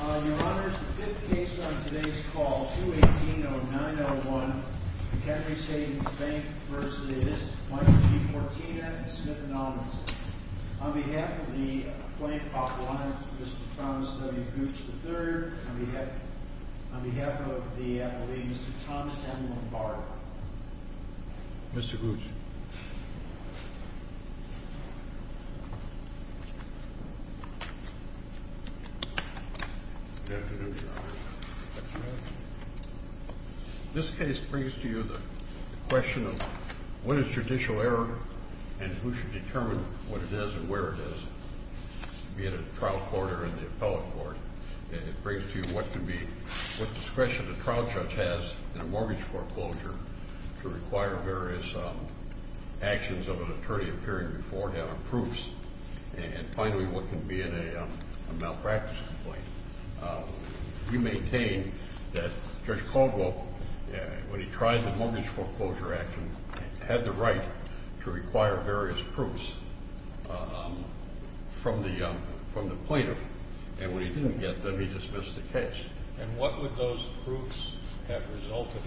Your Honor, the fifth case on today's call, 218-0901, MHenry Savings Bank v. Wife of Chief Cortina and Smith & Ollins. On behalf of the Plaintiff's Office, Mr. Thomas W. Gooch III. On behalf of the police, Mr. Thomas M. Lombardo. Mr. Gooch. Good afternoon, Your Honor. This case brings to you the question of what is judicial error and who should determine what it is and where it is, be it a trial court or an appellate court. And it brings to you what discretion a trial judge has in a mortgage foreclosure to require various actions of an attorney appearing before him, and finally what can be in a malpractice complaint. You maintain that Judge Caldwell, when he tried the Mortgage Foreclosure Act, had the right to require various proofs from the plaintiff, and when he didn't get them, he dismissed the case. And what would those proofs have resulted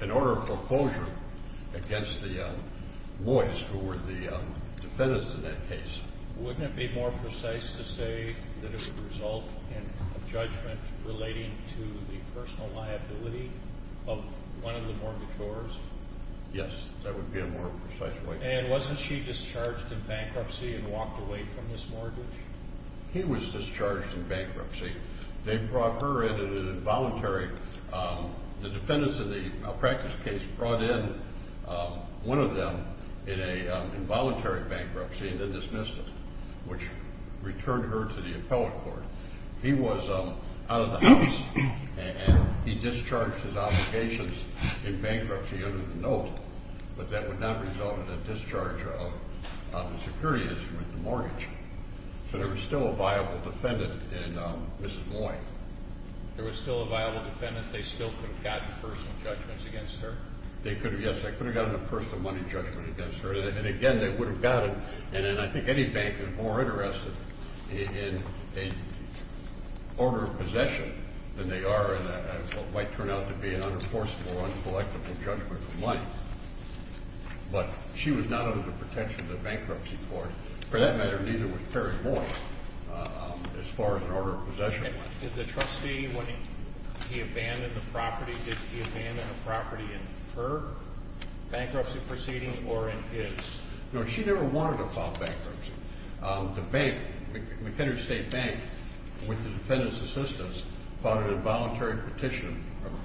in? In order of foreclosure against the boys who were the defendants in that case. Wouldn't it be more precise to say that it would result in a judgment relating to the personal liability of one of the mortgagors? Yes, that would be a more precise way. And wasn't she discharged in bankruptcy and walked away from this mortgage? He was discharged in bankruptcy. They brought her in an involuntary – the defendants in the malpractice case brought in one of them in a involuntary bankruptcy and then dismissed it, which returned her to the appellate court. He was out of the house, and he discharged his obligations in bankruptcy under the note, but that would not result in a discharge of the security instrument, the mortgage. So there was still a viable defendant in Mrs. Moy. There was still a viable defendant. They still could have gotten personal judgments against her? They could have, yes. They could have gotten a personal money judgment against her, and again, they would have gotten – and I think any bank is more interested in an order of possession than they are in what might turn out to be an unenforceable, uncollectable judgment of money. But she was not under the protection of the bankruptcy court. For that matter, neither was Terry Moy as far as an order of possession went. Did the trustee, when he abandoned the property, did he abandon the property in her bankruptcy proceeding or in his? No, she never wanted to file bankruptcy. The bank, McHenry State Bank, with the defendant's assistance, filed an involuntary petition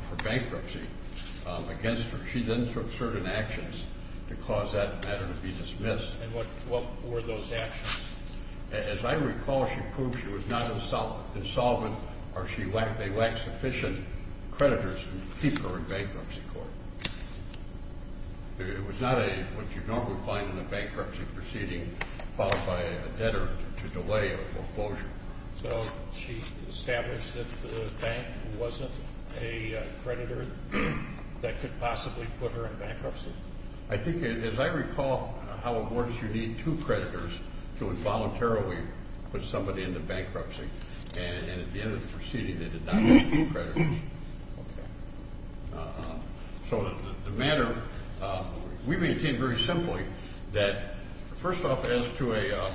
for bankruptcy against her. She then took certain actions to cause that matter to be dismissed. And what were those actions? As I recall, she proved she was not insolvent or they lacked sufficient creditors to keep her in bankruptcy court. It was not what you normally find in a bankruptcy proceeding filed by a debtor to delay a foreclosure. So she established that the bank wasn't a creditor that could possibly put her in bankruptcy? I think, as I recall, how a board should need two creditors to involuntarily put somebody into bankruptcy. And at the end of the proceeding, they did not need two creditors. Okay. So the matter we maintain very simply that, first off, as to a,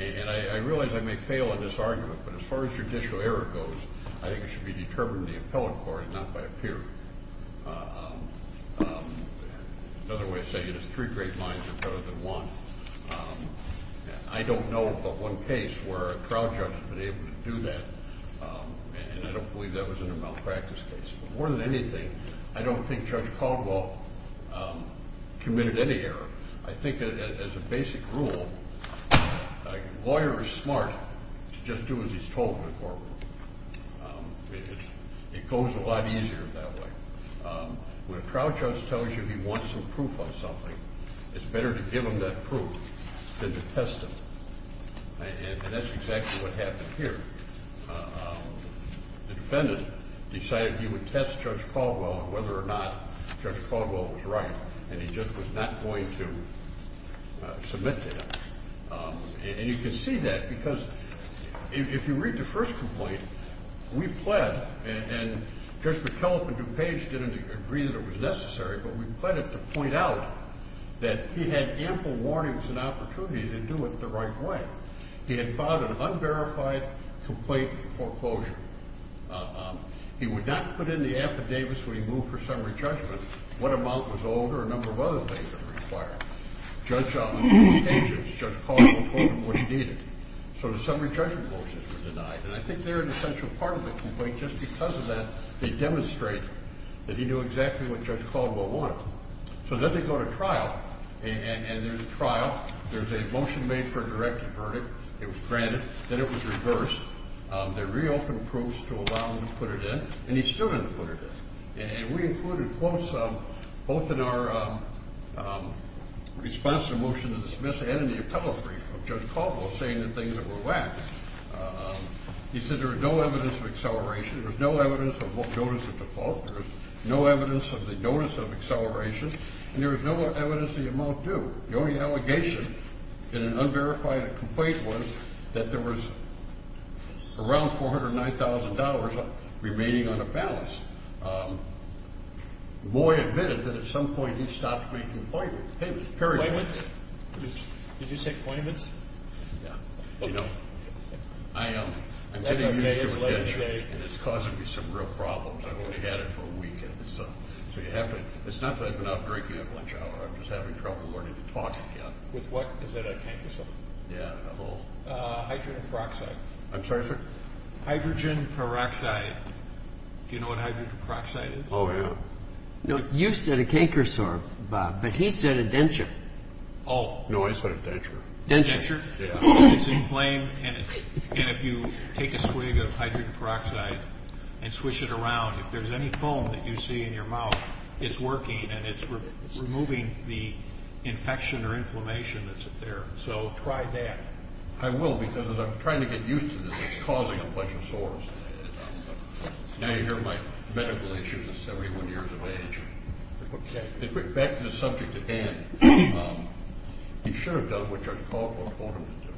and I realize I may fail in this argument, but as far as judicial error goes, I think it should be determined in the appellate court and not by a peer. Another way of saying it is three great minds are better than one. I don't know of but one case where a trial judge has been able to do that, and I don't believe that was in a malpractice case. But more than anything, I don't think Judge Caldwell committed any error. I think, as a basic rule, a lawyer is smart to just do as he's told in the courtroom. It goes a lot easier that way. When a trial judge tells you he wants some proof on something, it's better to give him that proof than to test him. And that's exactly what happened here. The defendant decided he would test Judge Caldwell on whether or not Judge Caldwell was right, and he just was not going to submit that. And you can see that because if you read the first complaint, we pled, and Judge McKellip and DuPage didn't agree that it was necessary, but we pled it to point out that he had ample warnings and opportunity to do it the right way. He had filed an unverified complaint foreclosure. He would not put in the affidavits when he moved for summary judgment what amount was owed or a number of other things that were required. Judge Caldwell told him what he needed, so the summary judgment motions were denied. And I think they're an essential part of the complaint. Just because of that, they demonstrate that he knew exactly what Judge Caldwell wanted. So then they go to trial, and there's a trial. There's a motion made for a direct verdict. It was granted. Then it was reversed. They reopened proofs to allow him to put it in, and he still didn't put it in. And we included quotes both in our response to the motion to dismiss and in the appellate brief of Judge Caldwell saying the things that were lax. He said there was no evidence of acceleration. There was no evidence of notice of default. There was no evidence of the notice of acceleration, and there was no evidence of the amount due. The only allegation in an unverified complaint was that there was around $409,000 remaining on a balance. Boy admitted that at some point he stopped making appointments. Appointments? Did you say appointments? Yeah. You know, I'm getting used to redemption, and it's causing me some real problems. I've only had it for a weekend. It's not that I've been out drinking at lunch hour. I'm just having trouble learning to talk again. With what? Is that a canker sore? Yeah, a little. Hydrogen peroxide. I'm sorry, sir? Hydrogen peroxide. Do you know what hydrogen peroxide is? Oh, yeah. No, you said a canker sore, Bob, but he said a denture. Oh, no, I said a denture. Denture? Yeah. It's inflamed, and if you take a swig of hydrogen peroxide and swish it around, if there's any foam that you see in your mouth, it's working, and it's removing the infection or inflammation that's there. So try that. I will, because as I'm trying to get used to this, it's causing a bunch of sores. Now you hear my medical issues at 71 years of age. Back to the subject at hand. He should have done what George Caldwell told him to do.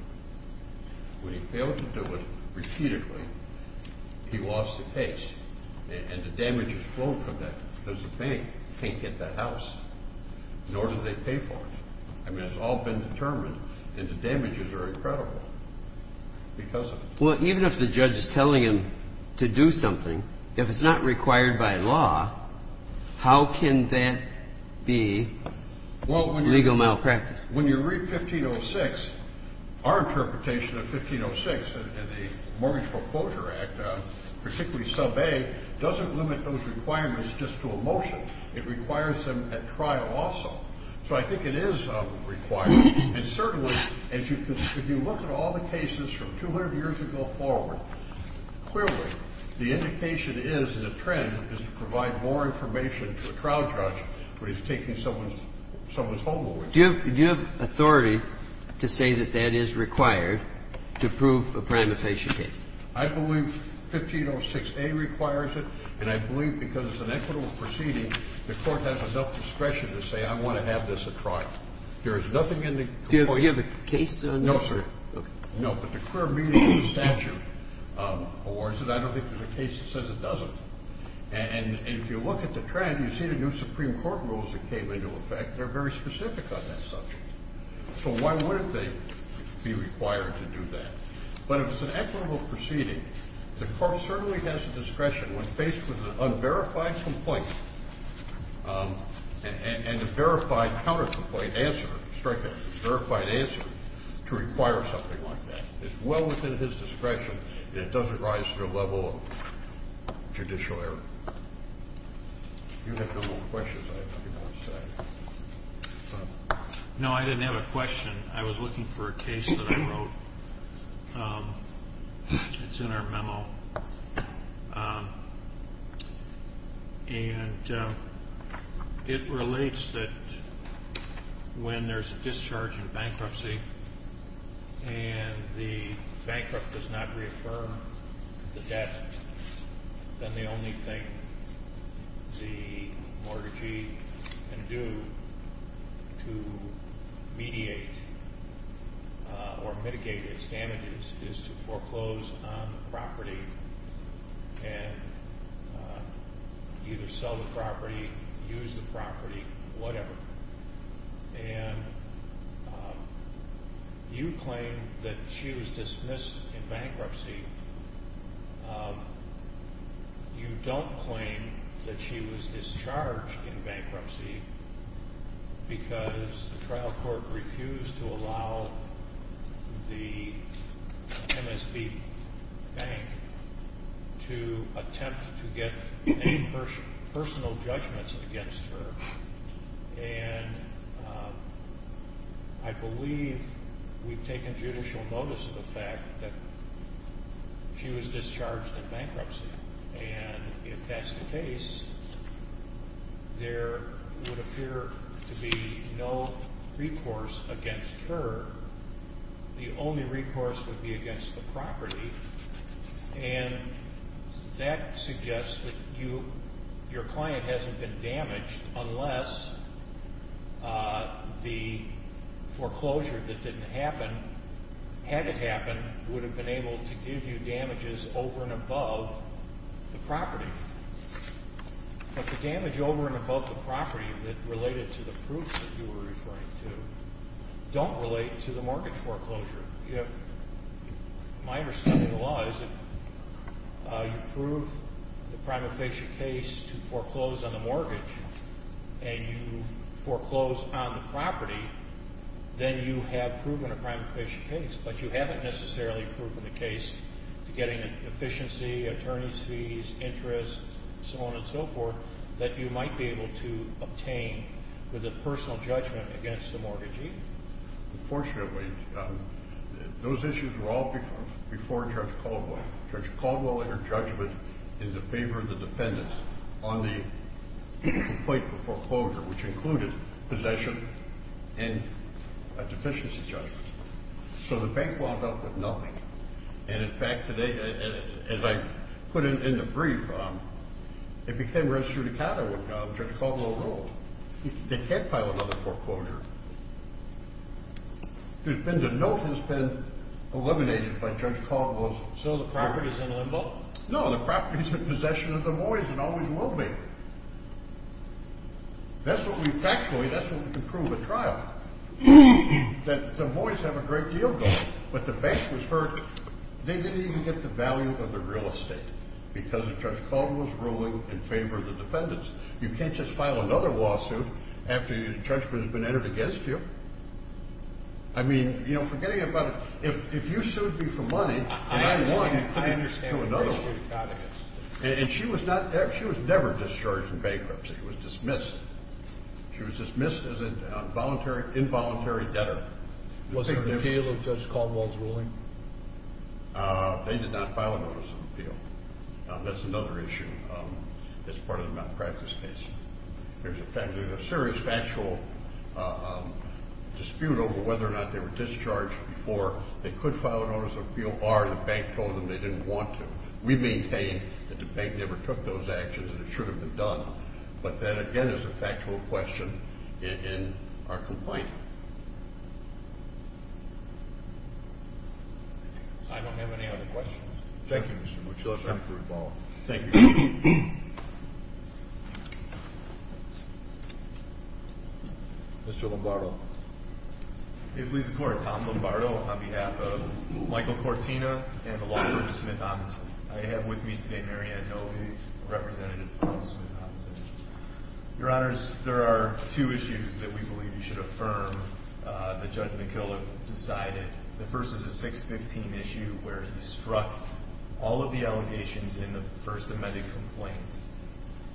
When he failed to do it repeatedly, he lost the case, and the damage is flown from that because the bank can't get the house, nor do they pay for it. I mean, it's all been determined, and the damages are incredible because of it. Well, even if the judge is telling him to do something, if it's not required by law, how can that be legal malpractice? When you read 1506, our interpretation of 1506 in the Mortgage Foreclosure Act, particularly sub A, doesn't limit those requirements just to a motion. It requires them at trial also. So I think it is required. And certainly if you look at all the cases from 200 years ago forward, clearly the indication is the trend is to provide more information to a trial judge when he's taking someone's home away. Do you have authority to say that that is required to prove a prioritization case? I believe 1506A requires it, and I believe because it's an equitable proceeding, the Court has enough discretion to say I want to have this at trial. There is nothing in the complaint. Do you have a case on this? No, sir. Okay. No, but the clear meaning of the statute awards it. I don't think there's a case that says it doesn't. And if you look at the trend, you see the new Supreme Court rules that came into effect, they're very specific on that subject. So why wouldn't they be required to do that? But if it's an equitable proceeding, the Court certainly has the discretion when faced with an unverified complaint and a verified counter-complaint answer, strictly a verified answer, to require something like that. It's well within his discretion, and it doesn't rise to the level of judicial error. You have no more questions, I believe, I'm sorry. No, I didn't have a question. I was looking for a case that I wrote. It's in our memo. And it relates that when there's a discharge in bankruptcy and the bankrupt does not reaffirm the debt, then the only thing the mortgagee can do to mediate or mitigate its damages is to foreclose on the property and either sell the property, use the property, whatever. And you claim that she was dismissed in bankruptcy. You don't claim that she was discharged in bankruptcy because the trial court refused to allow the MSB Bank to attempt to get any personal judgments against her. And I believe we've taken judicial notice of the fact that she was discharged in bankruptcy. And if that's the case, there would appear to be no recourse against her. The only recourse would be against the property. And that suggests that your client hasn't been damaged unless the foreclosure that didn't happen, had it happened, would have been able to give you damages over and above the property. But the damage over and above the property that related to the proof that you were referring to don't relate to the mortgage foreclosure. My understanding of the law is if you prove the prima facie case to foreclose on the mortgage and you foreclose on the property, then you have proven a prima facie case. But you haven't necessarily proven a case to getting an efficiency, attorney's fees, interest, so on and so forth, that you might be able to obtain with a personal judgment against the mortgagee. Unfortunately, those issues were all before Judge Caldwell. Judge Caldwell entered judgment in favor of the defendants on the complaint for foreclosure, which included possession and a deficiency judgment. So the bank wound up with nothing. And, in fact, today, as I put in the brief, it became registered account of what Judge Caldwell ruled. They can't file another foreclosure. The note has been eliminated by Judge Caldwell. So the property is in limbo? No, the property is in possession of the Moyes and always will be. That's what we factually, that's what we can prove at trial, that the Moyes have a great deal going. But the bank was hurt. They didn't even get the value of the real estate because of Judge Caldwell's ruling in favor of the defendants. You can't just file another lawsuit after the judgment has been entered against you. I mean, you know, forgetting about it, if you sued me for money and I won, you can't do another lawsuit. And she was never discharged from bankruptcy. She was dismissed. She was dismissed as an involuntary debtor. Was there an appeal of Judge Caldwell's ruling? They did not file a notice of appeal. That's another issue that's part of the malpractice case. There's a serious factual dispute over whether or not they were discharged before they could file a notice of appeal or the bank told them they didn't want to. We maintain that the bank never took those actions and it should have been done. But that, again, is a factual question in our complaint. I don't have any other questions. Thank you, Mr. Mochillo. Thank you for your time. Thank you. Mr. Lombardo. It pleases the Court. Tom Lombardo on behalf of Michael Cortina and the lawyer, Smith-Hodgson. I have with me today Marianne Novy, representative of Smith-Hodgson. Your Honors, there are two issues that we believe you should affirm that Judge McKillop decided. The first is a 615 issue where he struck all of the allegations in the first amended complaint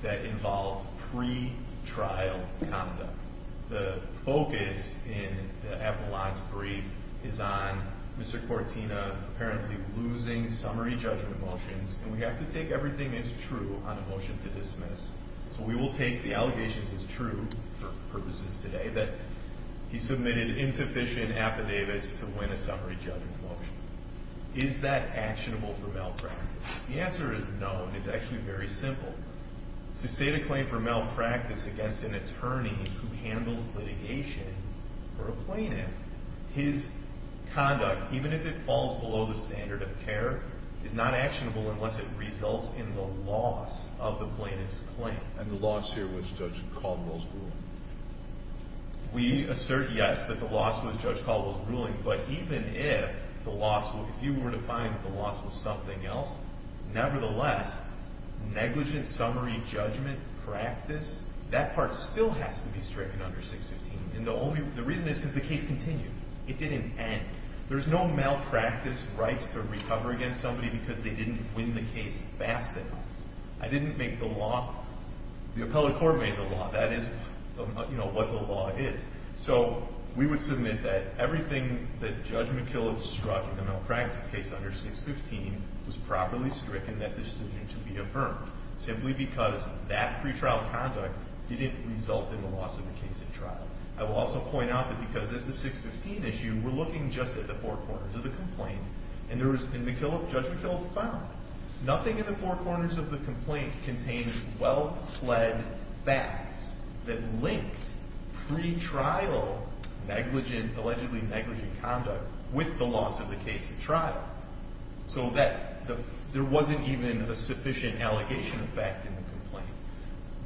that involved pre-trial conduct. The focus in the appellant's brief is on Mr. Cortina apparently losing summary judgment motions and we have to take everything as true on a motion to dismiss. So we will take the allegations as true for purposes today that he submitted insufficient affidavits to win a summary judgment motion. Is that actionable for malpractice? The answer is no. It's actually very simple. To state a claim for malpractice against an attorney who handles litigation for a plaintiff, his conduct, even if it falls below the standard of care, is not actionable unless it results in the loss of the plaintiff's claim. And the loss here was Judge Caldwell's ruling. We assert, yes, that the loss was Judge Caldwell's ruling, but even if the loss, if you were to find that the loss was something else, nevertheless, negligent summary judgment practice, that part still has to be stricken under 615. The reason is because the case continued. It didn't end. There's no malpractice rights to recover against somebody because they didn't win the case fast enough. I didn't make the law. The appellate court made the law. That is, you know, what the law is. So we would submit that everything that Judge McKillop struck in the malpractice case under 615 was properly stricken, that decision to be affirmed, simply because that pretrial conduct didn't result in the loss of the case at trial. I will also point out that because it's a 615 issue, we're looking just at the four corners of the complaint, and Judge McKillop found nothing in the four corners of the complaint contained well-fled facts that linked pretrial negligent, allegedly negligent conduct, with the loss of the case at trial, so that there wasn't even a sufficient allegation of fact in the complaint.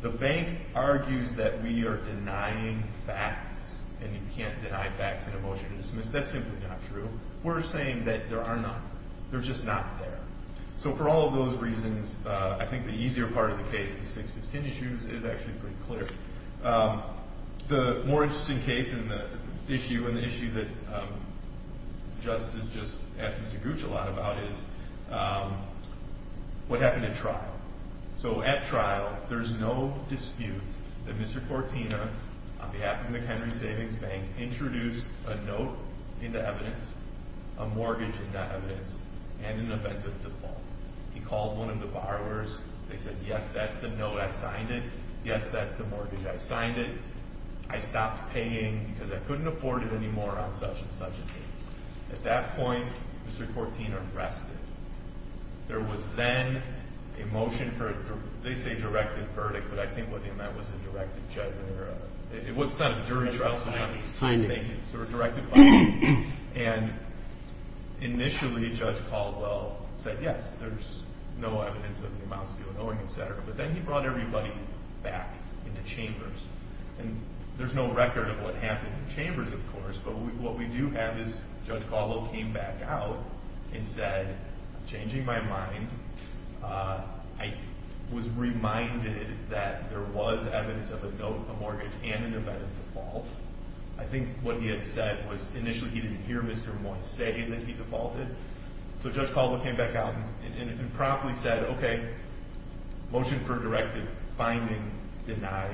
The bank argues that we are denying facts, and you can't deny facts in a motion to dismiss. That's simply not true. We're saying that there are none. They're just not there. So for all of those reasons, I think the easier part of the case, the 615 issues, is actually pretty clear. The more interesting case in the issue, and the issue that Justice has just asked Mr. Gooch a lot about, is what happened at trial. So at trial, there's no dispute that Mr. Cortina, on behalf of the Henry Savings Bank, introduced a note into evidence, a mortgage into evidence, and an event of default. He called one of the borrowers. They said, yes, that's the note. I signed it. Yes, that's the mortgage. I signed it. I stopped paying because I couldn't afford it anymore on such and such a case. At that point, Mr. Cortina rested. There was then a motion for a, they say, directed verdict, but I think what they meant was a directed judgment. It wasn't a jury trial. It was a finding. It was a directed finding. And initially, Judge Caldwell said, yes, there's no evidence of the amounts of ill-knowing, et cetera. But then he brought everybody back into chambers. And there's no record of what happened in the chambers, of course, but what we do have is Judge Caldwell came back out and said, I'm changing my mind. I was reminded that there was evidence of a note, a mortgage, and an event of default. I think what he had said was initially he didn't hear Mr. Moy say that he defaulted. So Judge Caldwell came back out and promptly said, okay, motion for a directive, finding denied.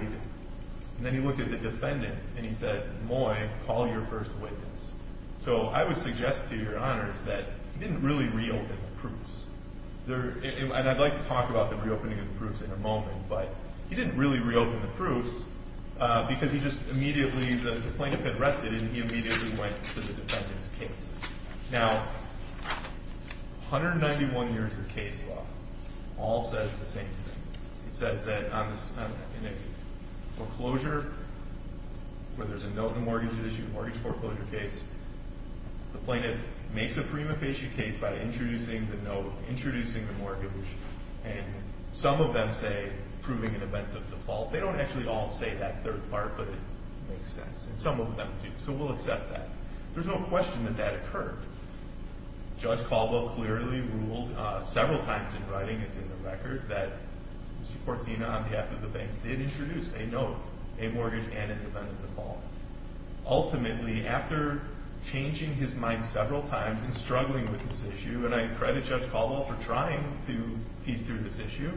And then he looked at the defendant and he said, Moy, call your first witness. So I would suggest to your honors that he didn't really reopen the proofs. And I'd like to talk about the reopening of the proofs in a moment, but he didn't really reopen the proofs because he just immediately, the plaintiff had rested and he immediately went to the defendant's case. Now, 191 years of case law all says the same thing. It says that in a foreclosure where there's a note in the mortgage issue, a mortgage foreclosure case, the plaintiff makes a prima facie case by introducing the note, introducing the mortgage, and some of them say proving an event of default. They don't actually all say that third part, but it makes sense. And some of them do, so we'll accept that. There's no question that that occurred. Judge Caldwell clearly ruled several times in writing, it's in the record, that Mr. Cortina on behalf of the bank did introduce a note, a mortgage, and an event of default. Ultimately, after changing his mind several times and struggling with this issue, and I credit Judge Caldwell for trying to piece through this issue,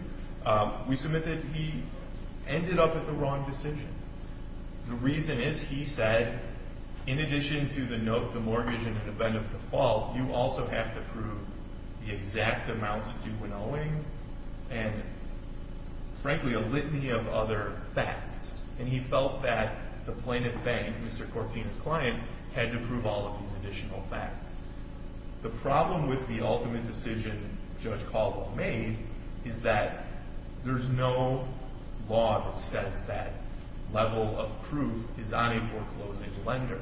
we submit that he ended up with the wrong decision. The reason is he said, in addition to the note, the mortgage, and an event of default, you also have to prove the exact amounts of due winnowing and, frankly, a litany of other facts. And he felt that the plaintiff bank, Mr. Cortina's client, had to prove all of these additional facts. The problem with the ultimate decision Judge Caldwell made is that there's no law that says that level of proof is on a foreclosing lender.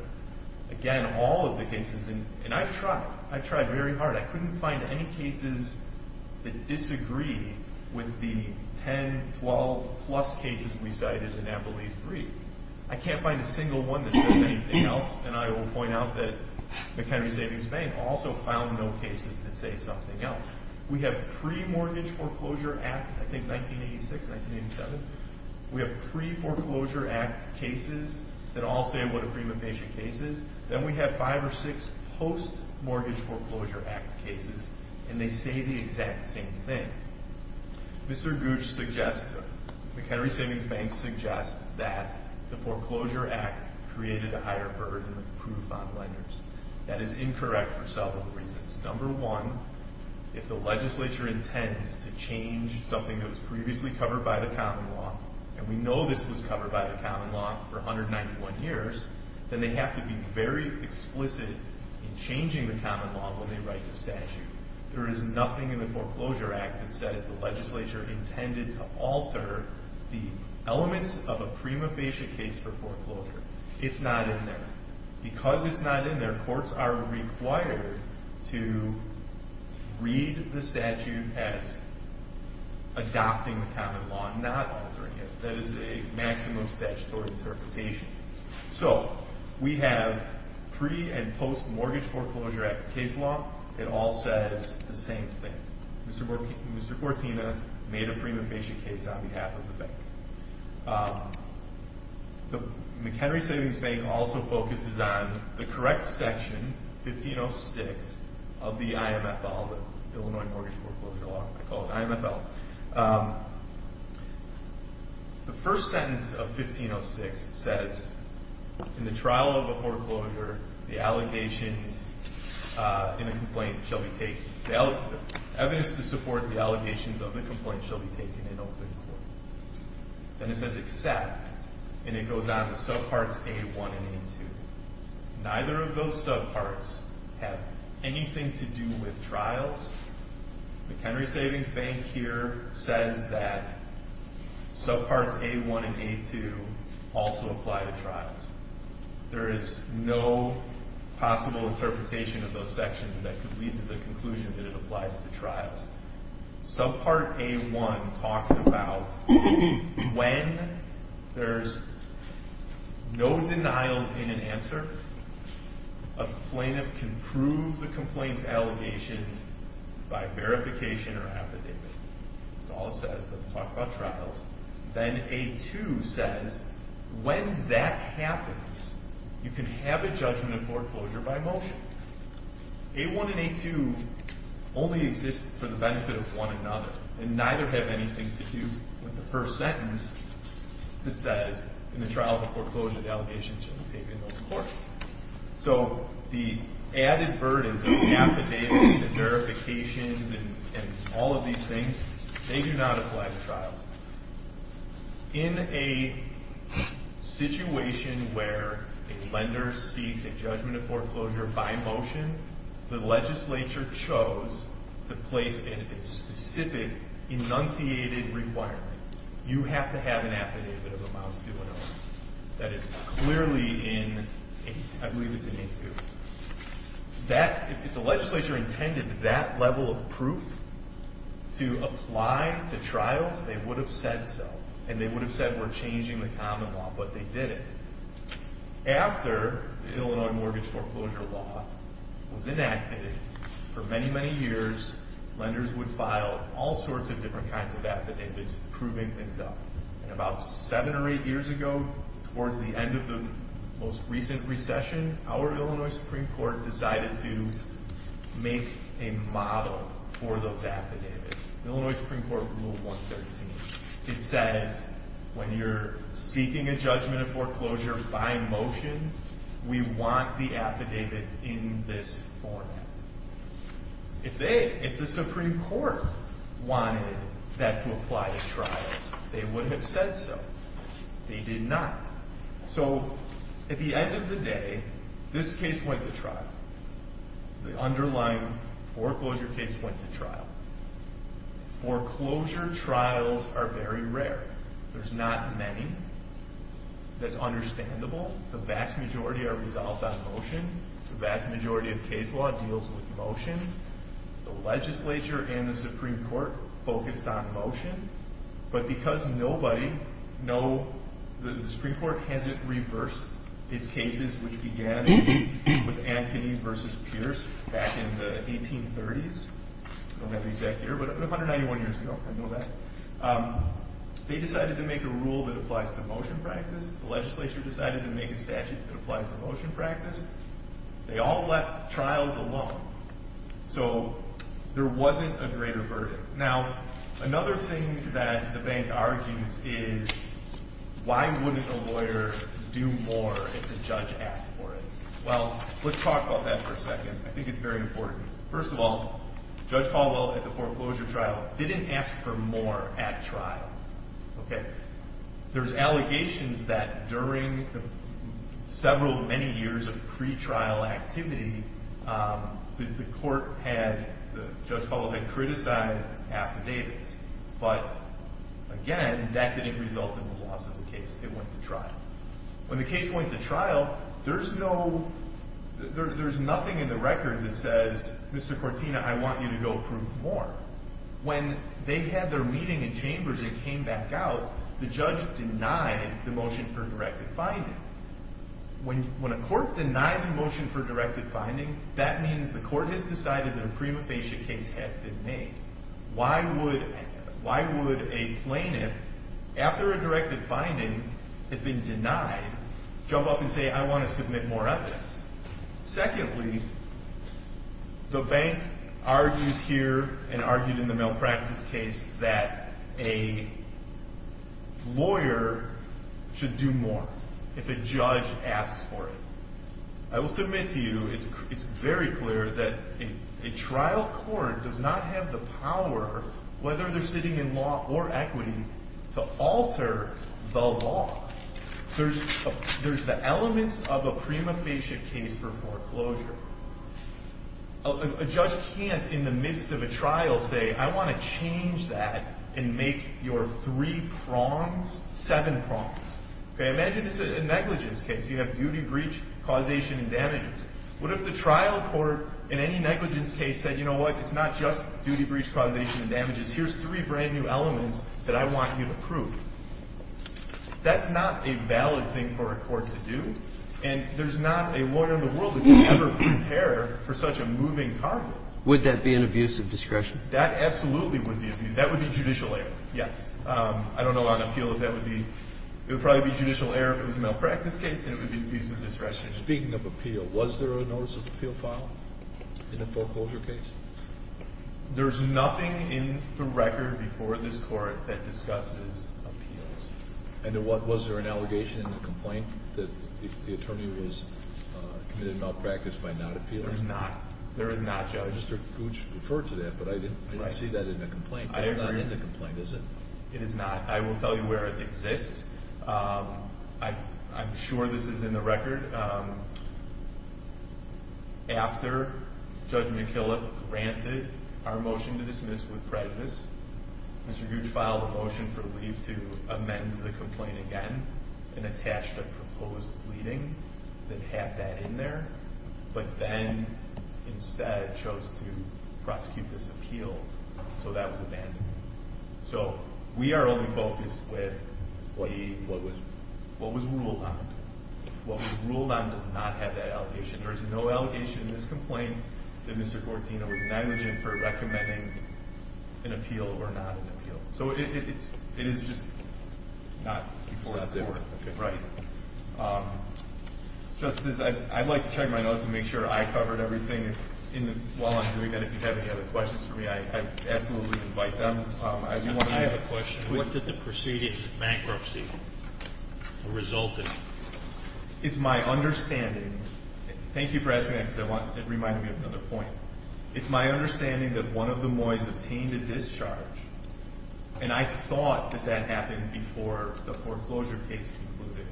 Again, all of the cases, and I've tried. I've tried very hard. I couldn't find any cases that disagree with the 10, 12-plus cases we cited in Abilene's brief. I can't find a single one that says anything else, and I will point out that McHenry Savings Bank also filed no cases that say something else. We have pre-Mortgage Foreclosure Act, I think 1986, 1987. We have pre-Foreclosure Act cases that all say what a pre-mortgage case is. Then we have five or six post-Mortgage Foreclosure Act cases, and they say the exact same thing. Mr. Gooch suggests, McHenry Savings Bank suggests, that the Foreclosure Act created a higher burden of proof on lenders. That is incorrect for several reasons. Number one, if the legislature intends to change something that was previously covered by the common law, and we know this was covered by the common law for 191 years, then they have to be very explicit in changing the common law when they write the statute. There is nothing in the Foreclosure Act that says the legislature intended to alter the elements of a prima facie case for foreclosure. It's not in there. Because it's not in there, courts are required to read the statute as adopting the common law, not altering it. That is a maximum statutory interpretation. So, we have pre- and post-Mortgage Foreclosure Act case law. It all says the same thing. Mr. Fortina made a prima facie case on behalf of the bank. The McHenry Savings Bank also focuses on the correct section, 1506, of the IMFL, the Illinois Mortgage Foreclosure Law, called IMFL. The first sentence of 1506 says, In the trial of a foreclosure, the evidence to support the allegations of the complaint shall be taken in open court. Then it says except, and it goes on to subparts A1 and A2. Neither of those subparts have anything to do with trials. The McHenry Savings Bank here says that subparts A1 and A2 also apply to trials. There is no possible interpretation of those sections that could lead to the conclusion that it applies to trials. Subpart A1 talks about when there's no denials in an answer, a plaintiff can prove the complaint's allegations by verification or affidavit. That's all it says. It doesn't talk about trials. Then A2 says when that happens, you can have a judgment of foreclosure by motion. A1 and A2 only exist for the benefit of one another, and neither have anything to do with the first sentence that says, In the trial of a foreclosure, the allegations shall be taken in open court. So the added burdens of affidavits and verifications and all of these things, they do not apply to trials. In a situation where a lender seeks a judgment of foreclosure by motion, the legislature chose to place a specific enunciated requirement. You have to have an affidavit of amounts to Illinois. That is clearly in, I believe it's in A2. If the legislature intended that level of proof to apply to trials, they would have said so, and they would have said we're changing the common law, but they didn't. After the Illinois mortgage foreclosure law was enacted, for many, many years, lenders would file all sorts of different kinds of affidavits proving things up. About seven or eight years ago, towards the end of the most recent recession, our Illinois Supreme Court decided to make a model for those affidavits. Illinois Supreme Court Rule 113. It says when you're seeking a judgment of foreclosure by motion, we want the affidavit in this format. If the Supreme Court wanted that to apply to trials, they would have said so. They did not. So at the end of the day, this case went to trial. The underlying foreclosure case went to trial. Foreclosure trials are very rare. There's not many. That's understandable. The vast majority are resolved on motion. The vast majority of case law deals with motion. The legislature and the Supreme Court focused on motion. But because nobody, no, the Supreme Court hasn't reversed its cases, which began with Ankeny v. Pierce back in the 1830s. I don't have the exact year, but 191 years ago. I know that. They decided to make a rule that applies to motion practice. The legislature decided to make a statute that applies to motion practice. They all left trials alone. So there wasn't a greater burden. Now, another thing that the bank argues is, why wouldn't a lawyer do more if the judge asked for it? Well, let's talk about that for a second. I think it's very important. First of all, Judge Caldwell at the foreclosure trial didn't ask for more at trial. There's allegations that during several many years of pretrial activity, the court had, Judge Caldwell had criticized affidavits. But, again, that didn't result in the loss of the case. It went to trial. When the case went to trial, there's nothing in the record that says, Mr. Cortina, I want you to go prove more. When they had their meeting in chambers and came back out, the judge denied the motion for a directed finding. When a court denies a motion for a directed finding, that means the court has decided that a prima facie case has been made. Why would a plaintiff, after a directed finding has been denied, jump up and say, I want to submit more evidence? Secondly, the bank argues here and argued in the malpractice case that a lawyer should do more if a judge asks for it. I will submit to you, it's very clear that a trial court does not have the power, whether they're sitting in law or equity, to alter the law. There's the elements of a prima facie case for foreclosure. A judge can't, in the midst of a trial, say, I want to change that and make your three prongs seven prongs. Imagine this is a negligence case. You have duty, breach, causation, and damages. What if the trial court, in any negligence case, said, you know what, it's not just duty, breach, causation, and damages. Here's three brand new elements that I want you to prove. That's not a valid thing for a court to do, and there's not a lawyer in the world that can ever prepare for such a moving target. Would that be an abuse of discretion? That absolutely would be abuse. That would be judicial error, yes. I don't know on appeal if that would be. It would probably be judicial error if it was a malpractice case, and it would be abuse of discretion. Speaking of appeal, was there a notice of appeal filed in the foreclosure case? There's nothing in the record before this Court that discusses appeals. And was there an allegation in the complaint that the attorney was committed malpractice by not appealing? There is not, Joe. Mr. Gooch referred to that, but I didn't see that in the complaint. It's not in the complaint, is it? It is not. I will tell you where it exists. I'm sure this is in the record. After Judge McKillop granted our motion to dismiss with prejudice, Mr. Gooch filed a motion for leave to amend the complaint again and attached a proposed pleading that had that in there, but then instead chose to prosecute this appeal, so that was abandoned. So we are only focused with what was ruled on. What was ruled on does not have that allegation. There is no allegation in this complaint that Mr. Gortino was negligent for recommending an appeal or not an appeal. So it is just not before the Court. It's not there. Right. Justices, I'd like to check my notes and make sure I covered everything while I'm doing that. If you have any other questions for me, I'd absolutely invite them. I have a question. What did the preceding bankruptcy result in? It's my understanding. Thank you for asking that because it reminded me of another point. It's my understanding that one of the Moys obtained a discharge, and I thought that that happened before the foreclosure case concluded.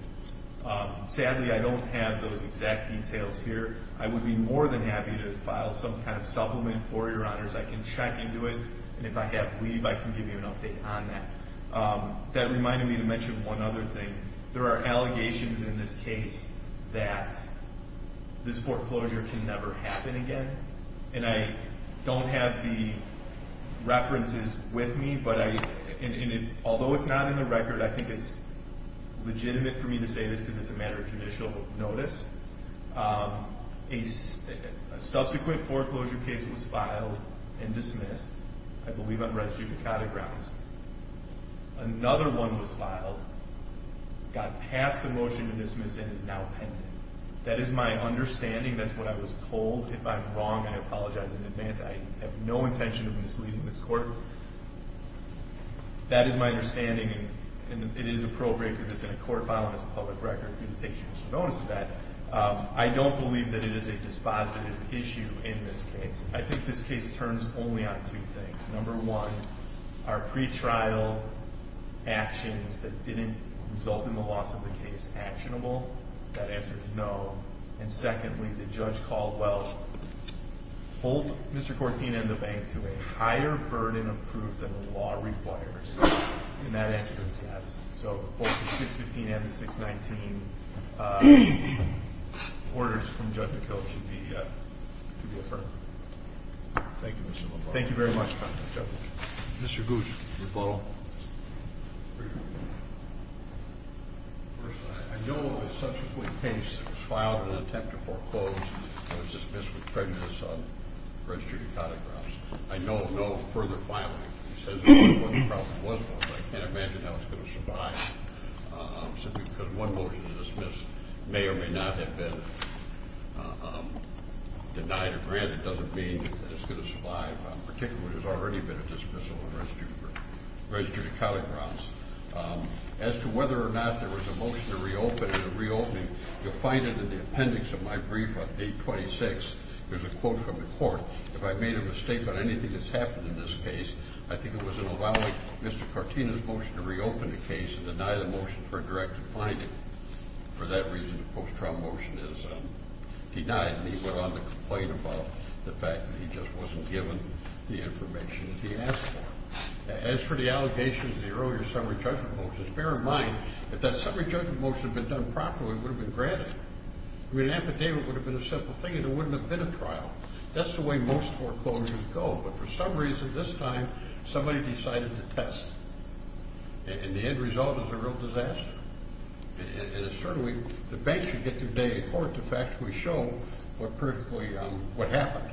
Sadly, I don't have those exact details here. I would be more than happy to file some kind of supplement for you, Your Honors. I can check into it, and if I have leave, I can give you an update on that. That reminded me to mention one other thing. There are allegations in this case that this foreclosure can never happen again, and I don't have the references with me. Although it's not in the record, I think it's legitimate for me to say this because it's a matter of judicial notice. A subsequent foreclosure case was filed and dismissed, I believe, on residue piccata grounds. Another one was filed, got past the motion to dismiss, and is now pending. That is my understanding. That's what I was told. If I'm wrong, I apologize in advance. I have no intention of misleading this Court. That is my understanding, and it is appropriate because it's in a court file and it's a public record, and it takes judicial notice of that. I don't believe that it is a dispositive issue in this case. I think this case turns only on two things. Number one, are pretrial actions that didn't result in the loss of the case actionable? That answer is no. And secondly, did Judge Caldwell hold Mr. Cortina and the bank to a higher burden of proof than the law requires? And that answer is yes. So both the 615 and the 619 orders from Judge McCulloch should be affirmed. Thank you, Mr. LaBaron. Thank you very much, Counsel. Mr. Guzzi. Mr. Butler. First, I know of a subsequent case that was filed in an attempt to foreclose and was dismissed with prejudice on residue piccata grounds. I know of no further filing. He says there was one, there probably was one, but I can't imagine how it's going to survive simply because one motion to dismiss may or may not have been denied or granted. It doesn't mean that it's going to survive, particularly when there's already been a dismissal on residue piccata grounds. As to whether or not there was a motion to reopen and a reopening, you'll find it in the appendix of my brief on page 26. There's a quote from the court. If I made a mistake on anything that's happened in this case, I think it was an evaluate Mr. Cortina's motion to reopen the case and deny the motion for a direct finding. For that reason, the post-trial motion is denied, and he went on to complain about the fact that he just wasn't given the information that he asked for. As for the allegations of the earlier summary judgment motions, bear in mind that if that summary judgment motion had been done properly, it would have been granted. I mean, an affidavit would have been a simple thing and there wouldn't have been a trial. That's the way most foreclosures go, but for some reason this time somebody decided to test, and the end result is a real disaster. And certainly the banks should get their day in court. In fact, we show what happened.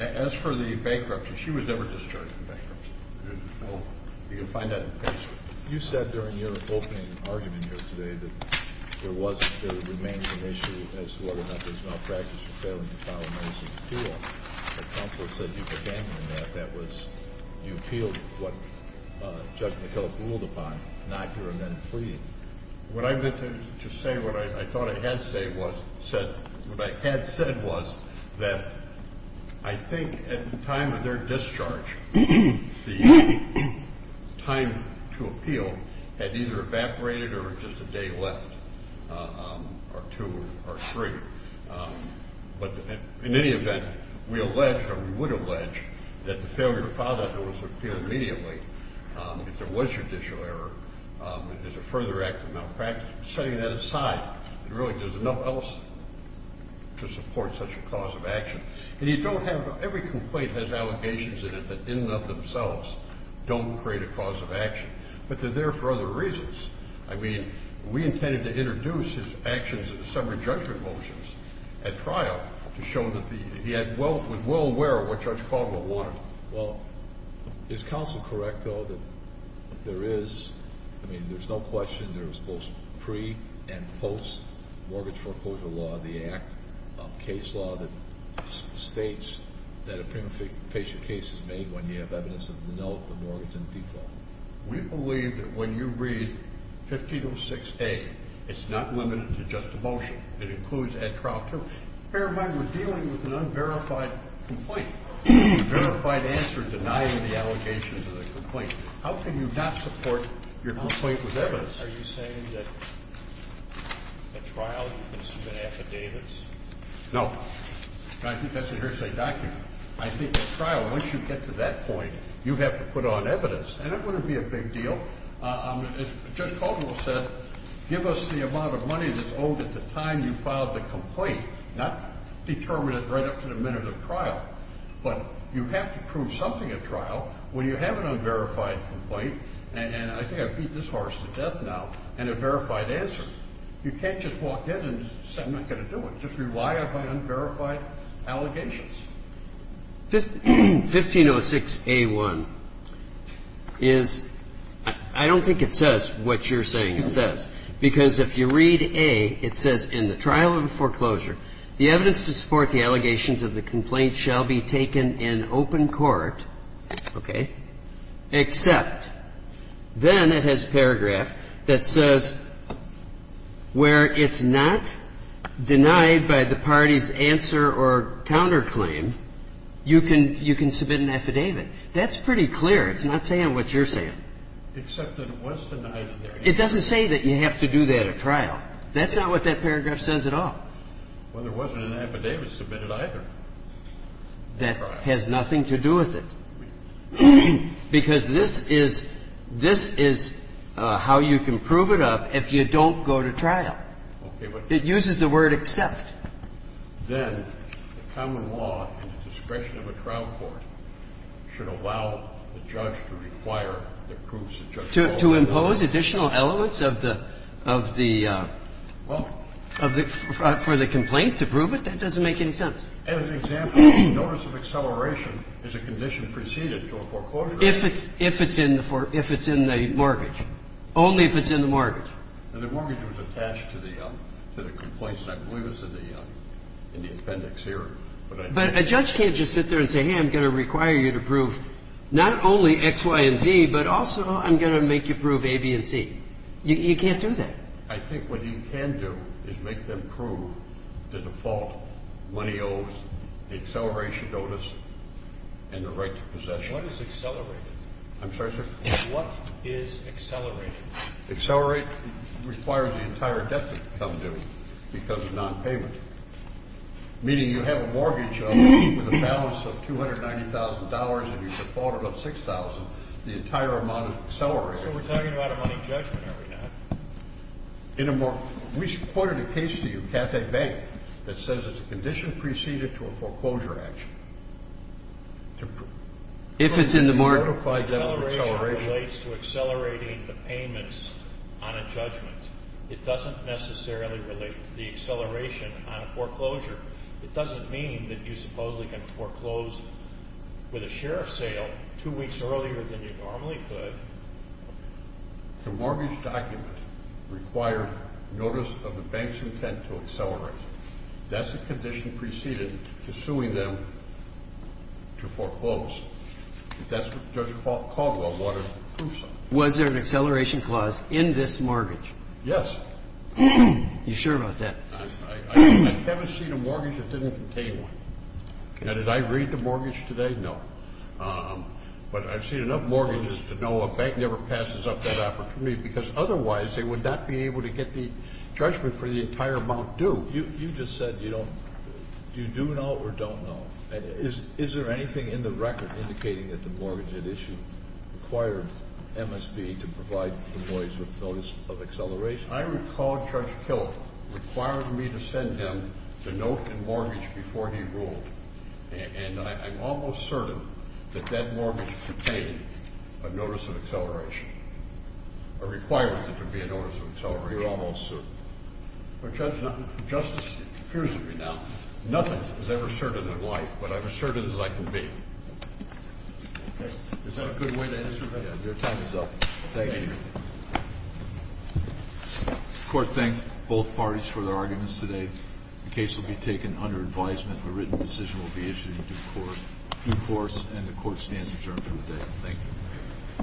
As for the bankruptcy, she was never discharged from bankruptcy. You can find that in the case. You said during your opening argument here today that there was, there remains an issue as to whether or not there's malpractice in failing to file a notice of appeal. The counselor said you began with that. That was, you appealed what Judge McKillop ruled upon, not your amended plea. What I meant to say, what I thought I had said was that I think at the time of their discharge, the time to appeal had either evaporated or just a day left or two or three. But in any event, we allege, or we would allege, that the failure to file that notice of appeal immediately, if there was judicial error, is a further act of malpractice. Setting that aside, really there's nothing else to support such a cause of action. And you don't have, every complaint has allegations in it that in and of themselves don't create a cause of action, but they're there for other reasons. I mean, we intended to introduce his actions in the summary judgment motions at trial to show that he was well aware of what Judge Caldwell wanted. Well, is counsel correct, though, that there is, I mean, there's no question there was both pre- and post-mortgage foreclosure law, the act of case law that states that a premeditation case is made when you have evidence of no mortgage in default. We believe that when you read 1506A, it's not limited to just a motion. It includes at trial, too. Bear in mind we're dealing with an unverified complaint, a verified answer denying the allegations of the complaint. How can you not support your complaint with evidence? Are you saying that at trial you can submit affidavits? No. I think that's a hearsay document. I think at trial, once you get to that point, you have to put on evidence. And it wouldn't be a big deal. As Judge Caldwell said, give us the amount of money that's owed at the time you filed the complaint, not determine it right up to the minute of trial. But you have to prove something at trial when you have an unverified complaint and I think I beat this horse to death now, and a verified answer. You can't just walk in and say I'm not going to do it. Just rely on my unverified allegations. Yes. 1506a1 is, I don't think it says what you're saying it says. Because if you read A, it says in the trial of foreclosure, the evidence to support the allegations of the complaint shall be taken in open court. Okay. Except then it has paragraph that says where it's not denied by the party's answer or counterclaim, you can submit an affidavit. That's pretty clear. It's not saying what you're saying. Except that it was denied. It doesn't say that you have to do that at trial. That's not what that paragraph says at all. Well, there wasn't an affidavit submitted either. That has nothing to do with it. Because this is how you can prove it up if you don't go to trial. Okay. It uses the word except. Then the common law in the discretion of a trial court should allow the judge to require the proofs the judge calls relevant. To impose additional elements of the complaint to prove it? That doesn't make any sense. As an example, notice of acceleration is a condition preceded to a foreclosure. If it's in the mortgage. Only if it's in the mortgage. The mortgage was attached to the complaint. I believe it's in the appendix here. But a judge can't just sit there and say, hey, I'm going to require you to prove not only X, Y, and Z, but also I'm going to make you prove A, B, and C. You can't do that. I think what you can do is make them prove the default money owes, the acceleration notice, and the right to possession. What is accelerated? I'm sorry, sir? What is accelerated? Accelerate requires the entire debt to become due because of nonpayment. Meaning you have a mortgage with a balance of $290,000 and you defaulted on $6,000, the entire amount is accelerated. So we're talking about a money judgment, are we not? We should point out a case to you, Cathay Bank, that says it's a condition preceded to a foreclosure action. If it's in the mortgage. Acceleration relates to accelerating the payments on a judgment. It doesn't necessarily relate to the acceleration on a foreclosure. It doesn't mean that you supposedly can foreclose with a share of sale two weeks earlier than you normally could. The mortgage document required notice of the bank's intent to accelerate. That's a condition preceded to suing them to foreclose. That's what Judge Caldwell wanted proof of. Was there an acceleration clause in this mortgage? Yes. Are you sure about that? I haven't seen a mortgage that didn't contain one. Now, did I read the mortgage today? No. But I've seen enough mortgages to know a bank never passes up that opportunity because otherwise they would not be able to get the judgment for the entire amount due. You just said you don't do know or don't know. Is there anything in the record indicating that the mortgage at issue required MSD to provide employees with notice of acceleration? I recall Judge Killar required me to send him the note and mortgage before he ruled. And I'm almost certain that that mortgage contained a notice of acceleration, a requirement that there be a notice of acceleration. You're almost certain. Justice, it confuses me now. Nothing is ever certain in life, but I'm as certain as I can be. Okay. Is that a good way to answer that? Your time is up. Thank you. The court thanks both parties for their arguments today. The case will be taken under advisement. A written decision will be issued in due course, and the court stands adjourned for the day. Thank you.